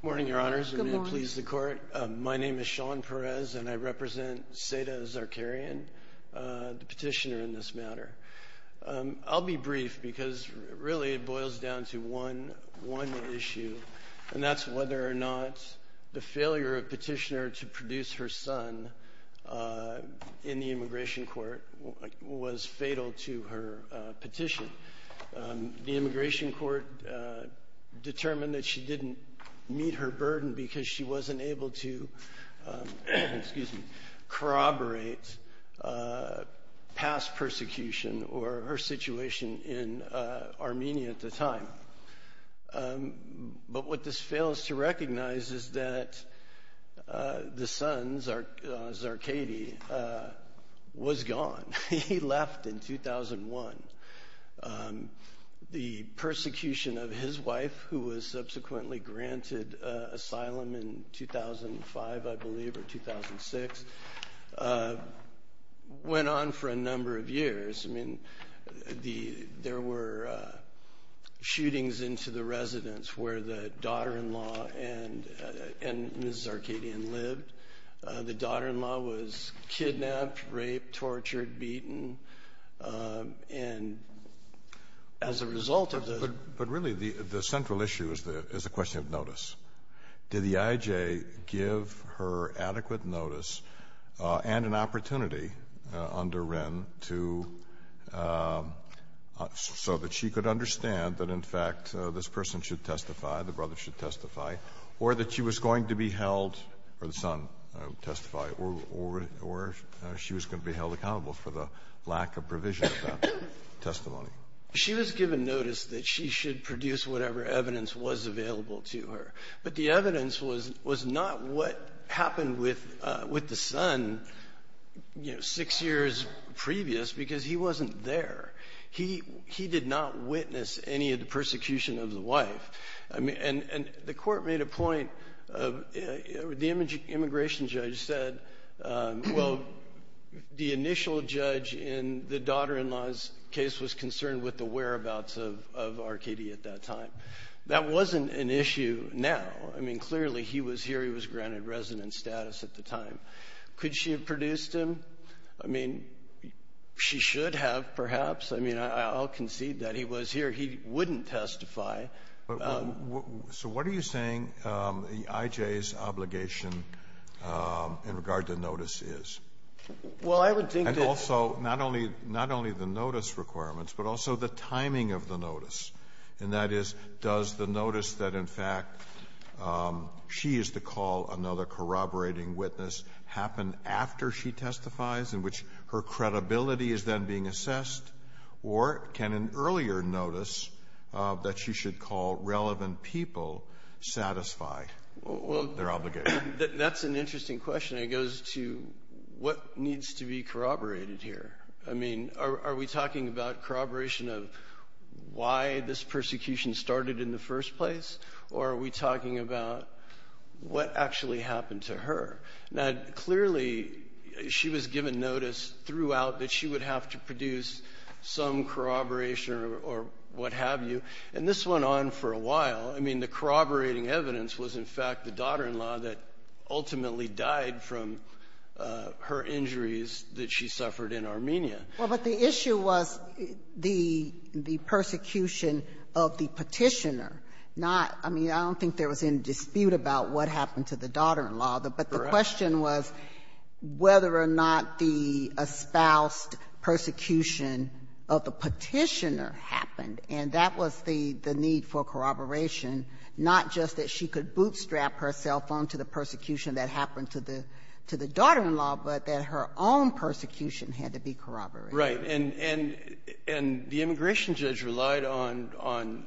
Good morning, your honors. I'm going to please the court. My name is Sean Perez and I represent Seda Zakaryan, the petitioner in this matter. I'll be brief because really it boils down to one issue, and that's whether or not the failure of the petitioner to produce her son in the immigration court was fatal to her petition. The immigration court determined that she didn't meet her burden because she wasn't able to corroborate past persecution or her situation in Armenia at the time. But what this fails to recognize is that the son, Zarkady, was gone. He left in 2001. The persecution of his wife, who was subsequently granted asylum in 2005, I believe, or 2006, went on for a number of years. I mean, there were shootings into the residence where the daughter-in-law and Mrs. Zarkadyan lived. The daughter-in-law was kidnapped, raped, tortured, beaten, and as a result of the— But really the central issue is the question of notice. Did the IJ give her adequate notice and an opportunity under Wren to — so that she could understand that, in fact, this person should testify, the brother should testify, or that she was going to be held — or the son testify, or she was going to be held accountable for the lack of provision of that testimony? She was given notice that she should produce whatever evidence was available to her. But the evidence was not what happened with the son, you know, six years previous, because he wasn't there. He did not witness any of the persecution of the wife. And the Court made a point of — the immigration judge said, well, the initial judge in the daughter-in-law's case was concerned with the whereabouts of Arkady at that time. That wasn't an issue now. I mean, clearly he was here. He was granted residence status at the time. Could she have produced him? I mean, she should have, perhaps. I mean, I'll concede that he was here. He wouldn't testify. So what are you saying the IJ's obligation in regard to notice is? And also, not only the notice requirements, but also the timing of the notice, and that is, does the notice that, in fact, she is to call another corroborating witness happen after she testifies, in which her credibility is then being assessed, or can an earlier notice that she should call relevant people satisfy their obligation? That's an interesting question. It goes to what needs to be corroborated here. I mean, are we talking about corroboration of why this persecution started in the first place, or are we talking about what actually happened to her? Now, clearly she was given notice throughout that she would have to produce some corroboration or what have you, and this went on for a while. I mean, the corroborating evidence was, in fact, the daughter-in-law that ultimately died from her injuries that she suffered in Armenia. Well, but the issue was the persecution of the petitioner, not — I mean, I don't think there was any dispute about what happened to the daughter-in-law. Correct. But the question was whether or not the espoused persecution of the petitioner happened, and that was the need for corroboration, not just that she could bootstrap her cell phone to the persecution that happened to the daughter-in-law, but that her own persecution had to be corroborated. Right. And the immigration judge relied on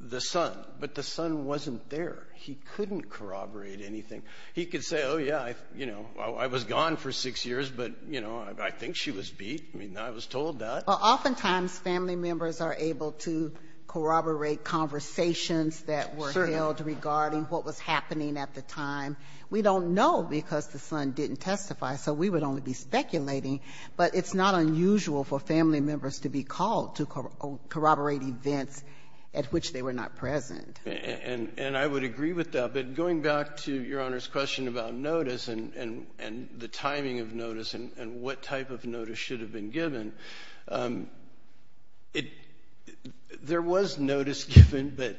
the son, but the son wasn't there. He couldn't corroborate anything. He could say, oh, yeah, you know, I was gone for six years, but, you know, I think she was beat. I mean, I was told that. Well, oftentimes family members are able to corroborate conversations that were held regarding what was happening at the time. We don't know because the son didn't testify, so we would only be speculating. But it's not unusual for family members to be called to corroborate events at which they were not present. And I would agree with that. But going back to Your Honor's question about notice and the timing of notice and what type of notice should have been given, there was notice given, but...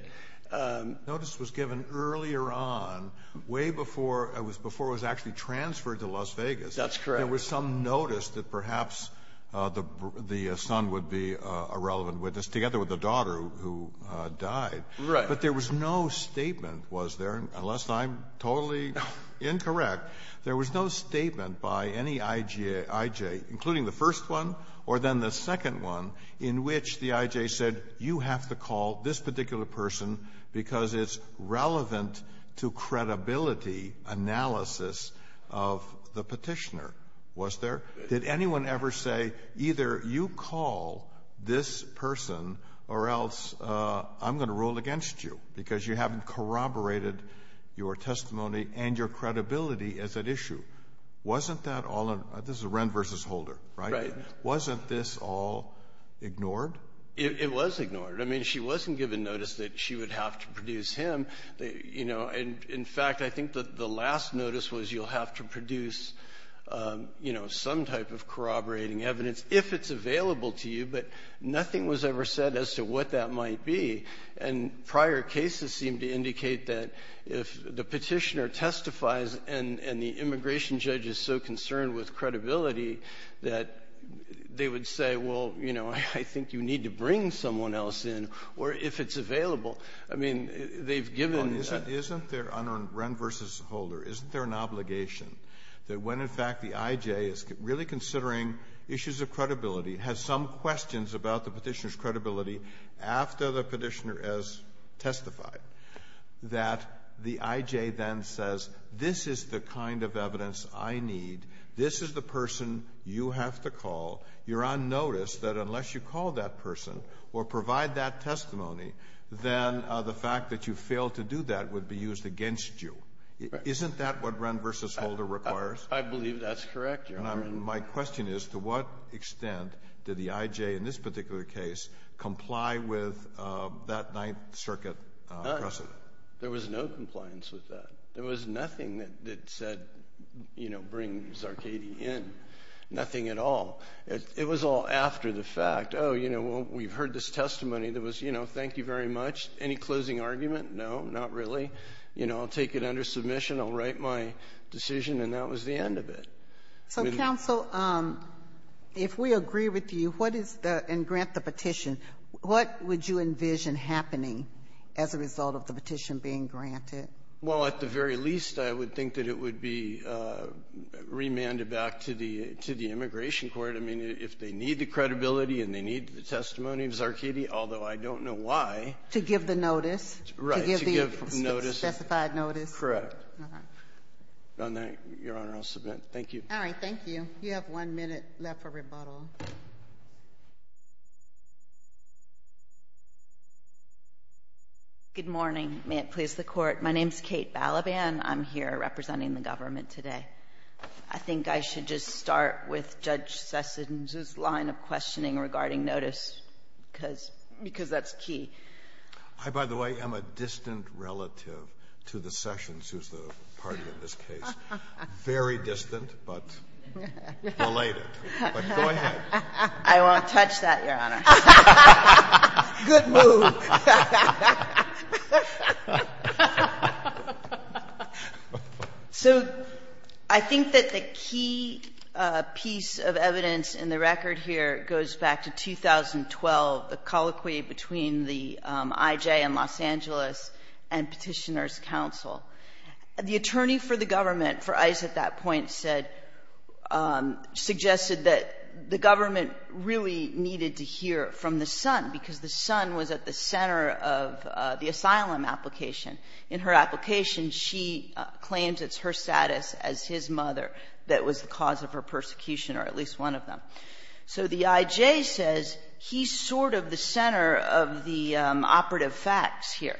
Notice was given earlier on, way before it was actually transferred to Las Vegas. That's correct. There was some notice that perhaps the son would be a relevant witness, together with the daughter who died. Right. But there was no statement, was there, unless I'm totally incorrect, there was no statement by any I.J., including the first one or then the second one, in which the I.J. said you have to call this particular person because it's relevant to credibility analysis of the Petitioner, was there? Did anyone ever say either you call this person or else I'm going to rule against you because you haven't corroborated your testimony and your credibility as an issue? Wasn't that all an — this is Wren v. Holder, right? Right. Wasn't this all ignored? It was ignored. I mean, she wasn't given notice that she would have to produce him. In fact, I think the last notice was you'll have to produce some type of corroborating evidence if it's available to you, but nothing was ever said as to what that might be. And prior cases seem to indicate that if the Petitioner testifies and the immigration judge is so concerned with credibility that they would say, well, you know, I think you need to bring someone else in, or if it's available. I mean, they've given — Isn't there, under Wren v. Holder, isn't there an obligation that when, in fact, the has some questions about the Petitioner's credibility after the Petitioner has testified that the I.J. then says, this is the kind of evidence I need, this is the person you have to call, you're on notice that unless you call that person or provide that testimony, then the fact that you failed to do that would be used against you? Isn't that what Wren v. Holder requires? I believe that's correct, Your Honor. And my question is, to what extent did the I.J. in this particular case comply with that Ninth Circuit precedent? There was no compliance with that. There was nothing that said, you know, bring Zarkady in. Nothing at all. It was all after the fact. Oh, you know, well, we've heard this testimony that was, you know, thank you very much. Any closing argument? No, not really. You know, I'll take it under submission, I'll write my decision, and that was the end of it. So, counsel, if we agree with you, what is the — and grant the petition, what would you envision happening as a result of the petition being granted? Well, at the very least, I would think that it would be remanded back to the — to the Immigration Court. I mean, if they need the credibility and they need the testimony of Zarkady, although I don't know why. To give the notice? Right. To give the notice. Specified notice? Correct. Your Honor, I'll submit. Thank you. All right. Thank you. You have one minute left for rebuttal. Good morning. May it please the Court. My name is Kate Balaban. I'm here representing the government today. I think I should just start with Judge Sessions's line of questioning regarding notice, because that's key. I, by the way, am a distant relative to the Sessions, who's the party in this case. Very distant, but related. But go ahead. I won't touch that, Your Honor. Good move. So I think that the key piece of evidence in the record here goes back to 2012, the colloquy between the I.J. and Los Angeles and Petitioner's counsel. The attorney for the government for ICE at that point said — suggested that the government really needed to hear from the son, because the son was at the center of the asylum application. In her application, she claims it's her status as his mother that was the cause of her persecution, or at least one of them. So the I.J. says he's sort of the center of the operative facts here.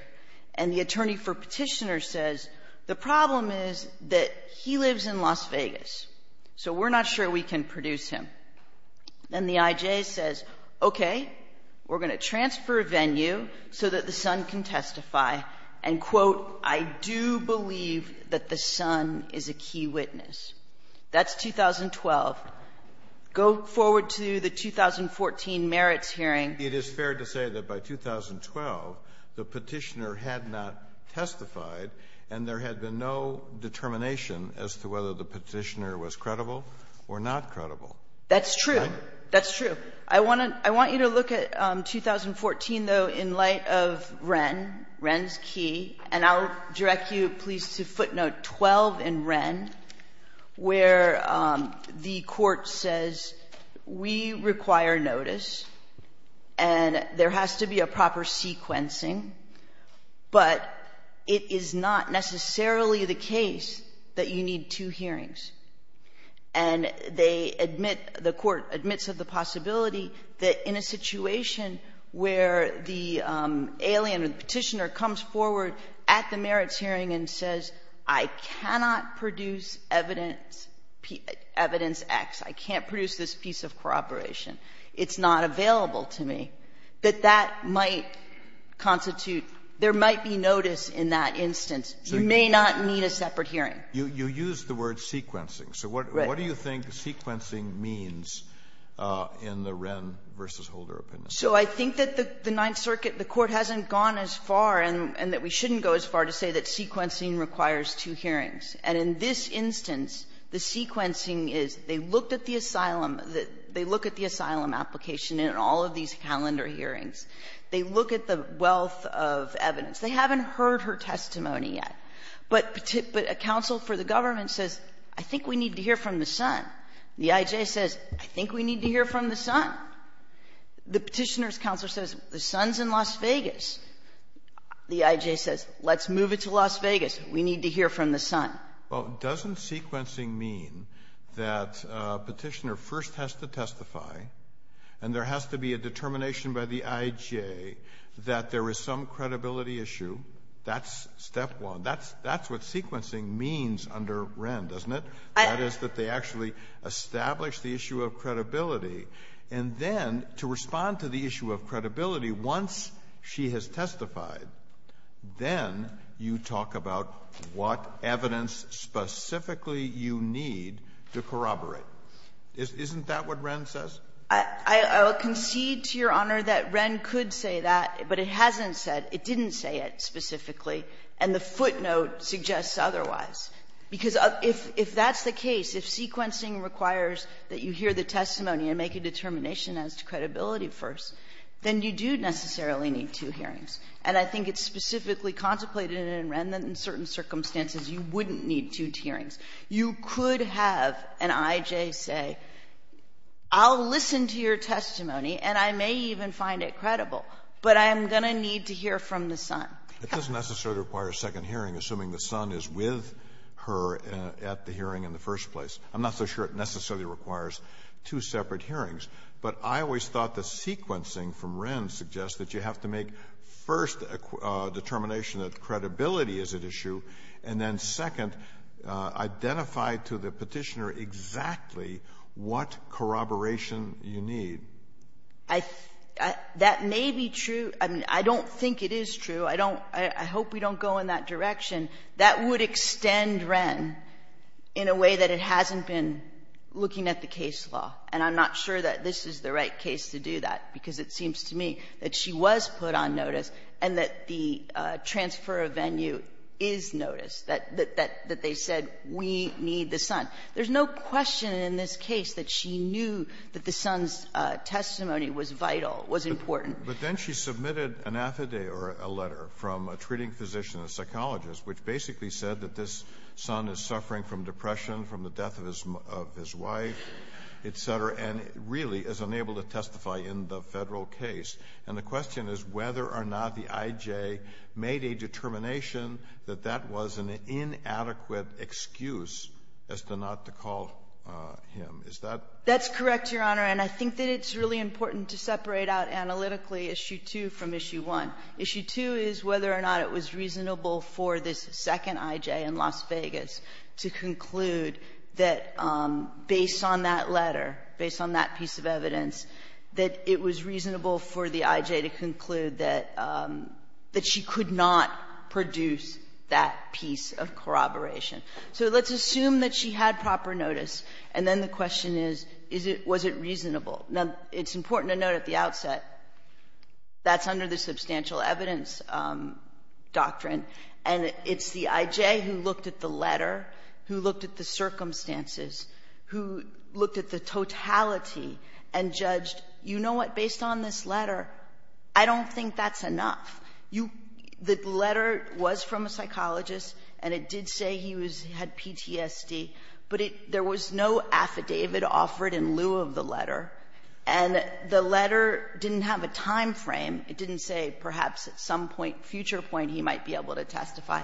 And the attorney for Petitioner says the problem is that he lives in Las Vegas, so we're not sure we can produce him. And the I.J. says, okay, we're going to transfer a venue so that the son can testify and, quote, I do believe that the son is a key witness. That's 2012. Go forward to the 2014 merits hearing. It is fair to say that by 2012, the Petitioner had not testified, and there had been no determination as to whether the Petitioner was credible or not credible. That's true. That's true. I want to — I want you to look at 2014, though, in light of Wren, Wren's key. And I'll direct you, please, to footnote 12 in Wren, where the Court says we require notice and there has to be a proper sequencing, but it is not necessarily the case that you need two hearings. And they admit, the Court admits of the possibility that in a situation where the Petitioner comes forward at the merits hearing and says, I cannot produce evidence X, I can't produce this piece of corroboration, it's not available to me, that that might constitute — there might be notice in that instance. You may not need a separate hearing. You used the word sequencing. Right. So what do you think sequencing means in the Wren v. Holder opinion? So I think that the Ninth Circuit, the Court hasn't gone as far and that we shouldn't go as far to say that sequencing requires two hearings. And in this instance, the sequencing is they looked at the asylum, they look at the asylum application in all of these calendar hearings. They look at the wealth of evidence. They haven't heard her testimony yet. But a counsel for the government says, I think we need to hear from the son. The IJ says, I think we need to hear from the son. The Petitioner's counsel says, the son's in Las Vegas. The IJ says, let's move it to Las Vegas. We need to hear from the son. Well, doesn't sequencing mean that Petitioner first has to testify and there has to be a determination by the IJ that there is some credibility issue? That's step one. That's what sequencing means under Wren, doesn't it? That is, that they actually establish the issue of credibility. And then to respond to the issue of credibility, once she has testified, then you talk about what evidence specifically you need to corroborate. Isn't that what Wren says? I'll concede to Your Honor that Wren could say that, but it hasn't said. It didn't say it specifically. And the footnote suggests otherwise. Because if that's the case, if sequencing requires that you hear the testimony and make a determination as to credibility first, then you do necessarily need two hearings. And I think it's specifically contemplated in Wren that in certain circumstances you wouldn't need two hearings. You could have an IJ say, I'll listen to your testimony and I may even find it credible, but I'm going to need to hear from the son. It doesn't necessarily require a second hearing, assuming the son is with her at the hearing in the first place. I'm not so sure it necessarily requires two separate hearings. But I always thought the sequencing from Wren suggests that you have to make first a determination that credibility is at issue, and then second, identify to the Petitioner exactly what corroboration you need. That may be true. I don't think it is true. I don't – I hope we don't go in that direction. That would extend Wren in a way that it hasn't been looking at the case law. And I'm not sure that this is the right case to do that, because it seems to me that she was put on notice and that the transfer of venue is noticed, that they said we need the son. There's no question in this case that she knew that the son's testimony was vital, was important. But then she submitted an affidavit or a letter from a treating physician, a psychologist, which basically said that this son is suffering from depression from the death of his wife, et cetera, and really is unable to testify in the Federal case. And the question is whether or not the IJ made a determination that that was an inadequate excuse as to not to call him. Is that – That's correct, Your Honor. And I think that it's really important to separate out analytically Issue 2 from Issue 1. Issue 2 is whether or not it was reasonable for this second IJ in Las Vegas to conclude that, based on that letter, based on that piece of evidence, that it was reasonable for the IJ to conclude that she could not produce that piece of corroboration. So let's assume that she had proper notice, and then the question is, was it reasonable? Now, it's important to note at the outset that's under the substantial evidence doctrine, and it's the IJ who looked at the letter, who looked at the circumstances, who looked at the totality and judged, you know what, based on this letter, I don't think that's enough. The letter was from a psychologist, and it did say he had PTSD, but there was no affidavit offered in lieu of the letter, and the letter didn't have a time frame. It didn't say perhaps at some point, future point, he might be able to testify.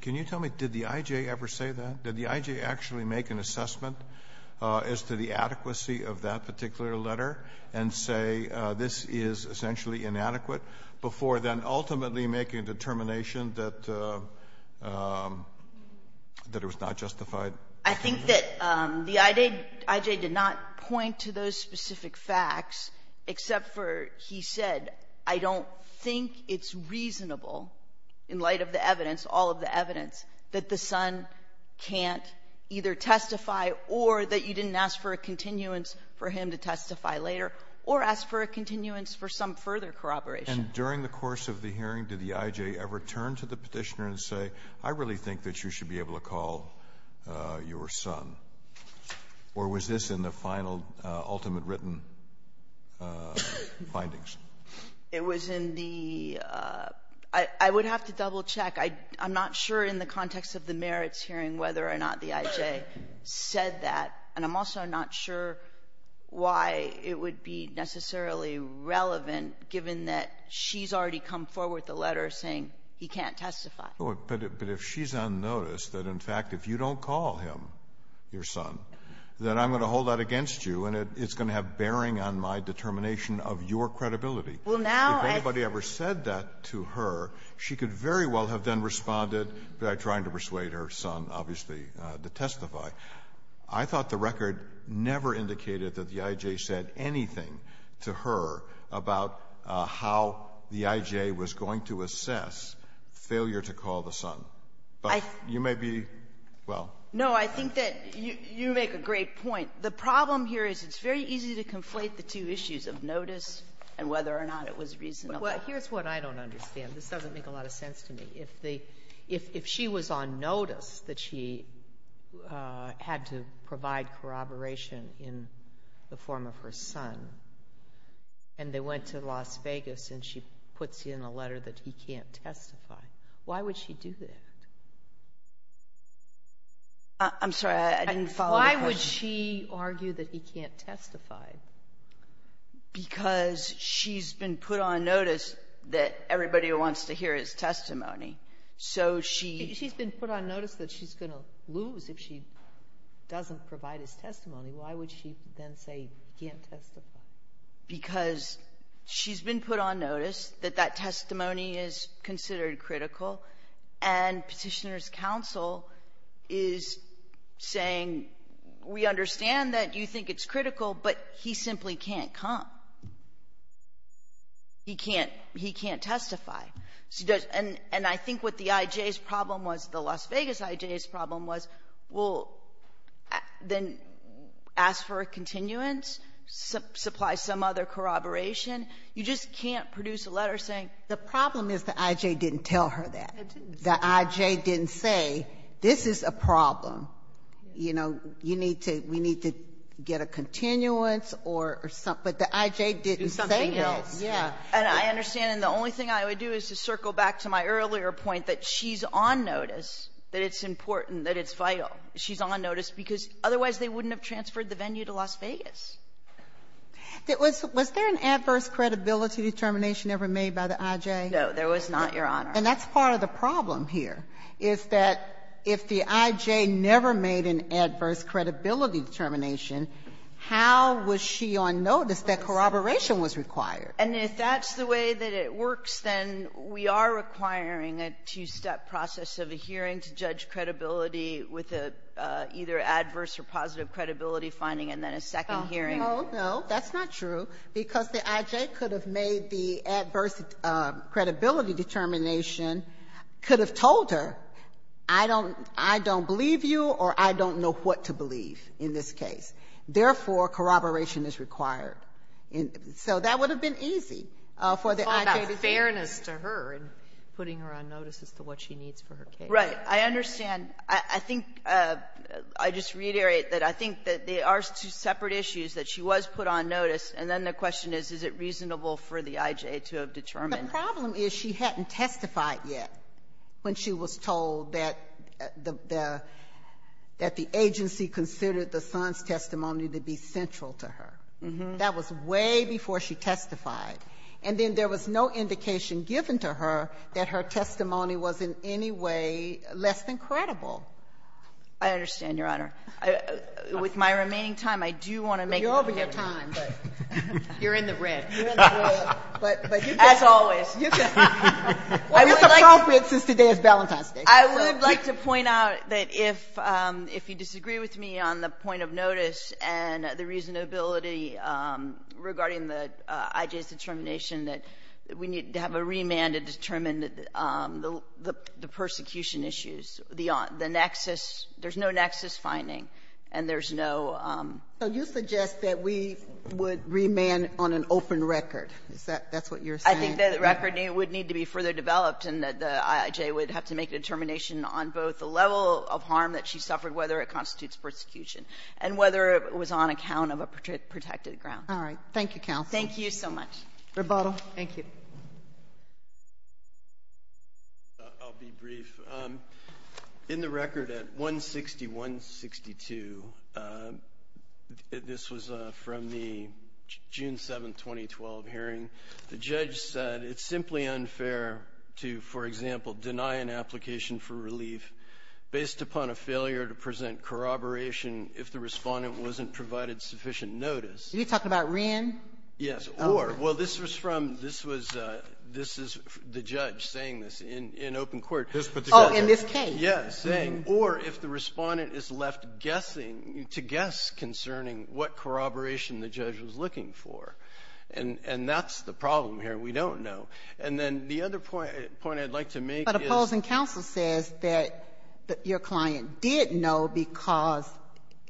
Can you tell me, did the IJ ever say that? Did the IJ actually make an assessment as to the adequacy of that particular letter and say, this is essentially inadequate, before then ultimately making a determination that it was not justified? I think that the IJ did not point to those specific facts, except for he said, I don't think it's reasonable, in light of the evidence, all of the evidence, that the son can't either testify or that you didn't ask for a continuance for him to testify. later, or ask for a continuance for some further corroboration. During the course of the hearing, did the IJ ever turn to the petitioner and say, I really think that you should be able to call your son? Or was this in the final, ultimate written findings? It was in the, I would have to double check. I'm not sure in the context of the merits hearing whether or not the IJ said that, and I'm also not sure why it would be necessarily relevant, given that she's already come forward with a letter saying he can't testify. But if she's unnoticed, that, in fact, if you don't call him, your son, then I'm going to hold that against you, and it's going to have bearing on my determination of your credibility. Well, now I think If anybody ever said that to her, she could very well have then responded by trying to persuade her son, obviously, to testify. I thought the record never indicated that the IJ said anything to her about how the IJ was going to assess failure to call the son. But you may be, well. No, I think that you make a great point. The problem here is it's very easy to conflate the two issues of notice and whether or not it was reasonable. Well, here's what I don't understand. This doesn't make a lot of sense to me. If she was on notice that she had to provide corroboration in the form of her son, and they went to Las Vegas, and she puts in a letter that he can't testify, why would she do that? I'm sorry. I didn't follow the question. Why would she argue that he can't testify? Because she's been put on notice that everybody wants to hear his testimony. So she She's been put on notice that she's going to lose if she doesn't provide his testimony. Why would she then say he can't testify? Because she's been put on notice that that testimony is considered critical, and Petitioner's And we understand that you think it's critical, but he simply can't come. He can't testify. And I think what the I.J.'s problem was, the Las Vegas I.J.'s problem was, well, then ask for a continuance, supply some other corroboration. You just can't produce a letter saying the problem is the I.J. didn't tell her that. The I.J. didn't say this is a problem. You know, you need to we need to get a continuance or something, but the I.J. didn't say this. And I understand, and the only thing I would do is to circle back to my earlier point that she's on notice that it's important, that it's vital. She's on notice because otherwise they wouldn't have transferred the venue to Las Vegas. Was there an adverse credibility determination ever made by the I.J.? No, there was not, Your Honor. And that's part of the problem here, is that if the I.J. never made an adverse credibility determination, how was she on notice that corroboration was required? And if that's the way that it works, then we are requiring a two-step process of a hearing to judge credibility with either adverse or positive credibility finding and then a second hearing. No, no, that's not true, because the I.J. could have made the adverse credibility determination, could have told her, I don't believe you or I don't know what to believe in this case. Therefore, corroboration is required. And so that would have been easy for the I.J. to do. It's all about fairness to her and putting her on notice as to what she needs for her case. Right. I understand. I think I just reiterate that I think that they are two separate issues, that she was put on notice, and then the question is, is it reasonable for the I.J. to have determined? The problem is she hadn't testified yet when she was told that the agency considered the son's testimony to be central to her. That was way before she testified. And then there was no indication given to her that her testimony was in any way less than credible. I understand, Your Honor. With my remaining time, I do want to make a point. You're in the red. You're in the red. As always. I would like to point out that if you disagree with me on the point of notice and the reasonability regarding the I.J.'s determination, that we need to have a remand to determine the persecution issues, the nexus. There's no nexus finding, and there's no... So you suggest that we would remand on an open remand. In the record. Is that what you're saying? I think the record would need to be further developed and that the I.J. would have to make a determination on both the level of harm that she suffered, whether it constitutes persecution, and whether it was on account of a protected ground. All right. Thank you, counsel. Thank you so much. Rebuttal. Thank you. I'll be brief. In the record at 160-162, this was from the June 7, 2012, hearing, the judge said it's simply unfair to, for example, deny an application for relief based upon a failure to present corroboration if the respondent wasn't provided sufficient notice. Are you talking about Wren? Yes. Or. Well, this was from the judge saying this in open court. Oh, in this case. Yes. Or if the respondent is left guessing, to guess concerning what corroboration the judge was looking for. And that's the problem here. We don't know. And then the other point I'd like to make is... But opposing counsel says that your client did know because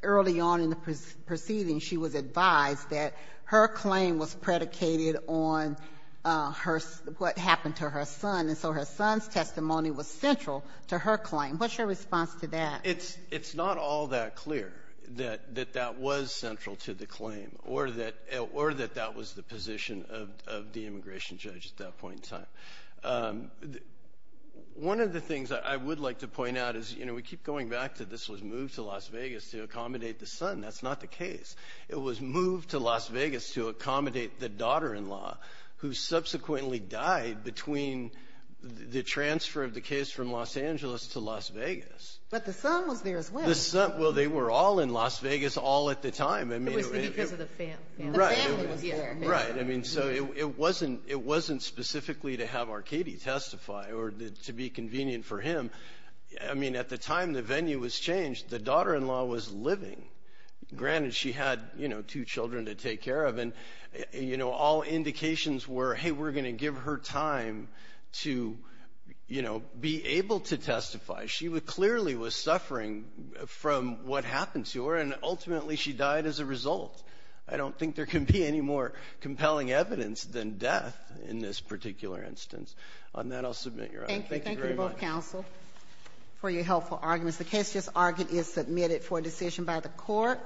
early on in the proceeding she was advised that her claim was predicated on what happened to her son, and so her son's claim was central to her claim. What's your response to that? It's not all that clear that that was central to the claim or that that was the position of the immigration judge at that point in time. One of the things I would like to point out is, you know, we keep going back to this was moved to Las Vegas to accommodate the son. That's not the case. It was moved to Las Vegas to accommodate the daughter-in-law who subsequently died between the transfer of the case from Los Angeles to Las Vegas. But the son was there as well. Well, they were all in Las Vegas all at the time. It was because of the family. Right. The family was there. Right. I mean, so it wasn't specifically to have Arkady testify or to be convenient for him. I mean, at the time the venue was changed, the daughter-in-law was living. Granted, she had, you know, two children to take care of. And, you know, all indications were, hey, we're going to give her time to, you know, be able to testify. She clearly was suffering from what happened to her, and ultimately she died as a result. I don't think there can be any more compelling evidence than death in this particular instance. On that, I'll submit your honor. Thank you very much. Thank you. Thank you to both counsel for your helpful arguments. The case just argued is submitted for decision by the court.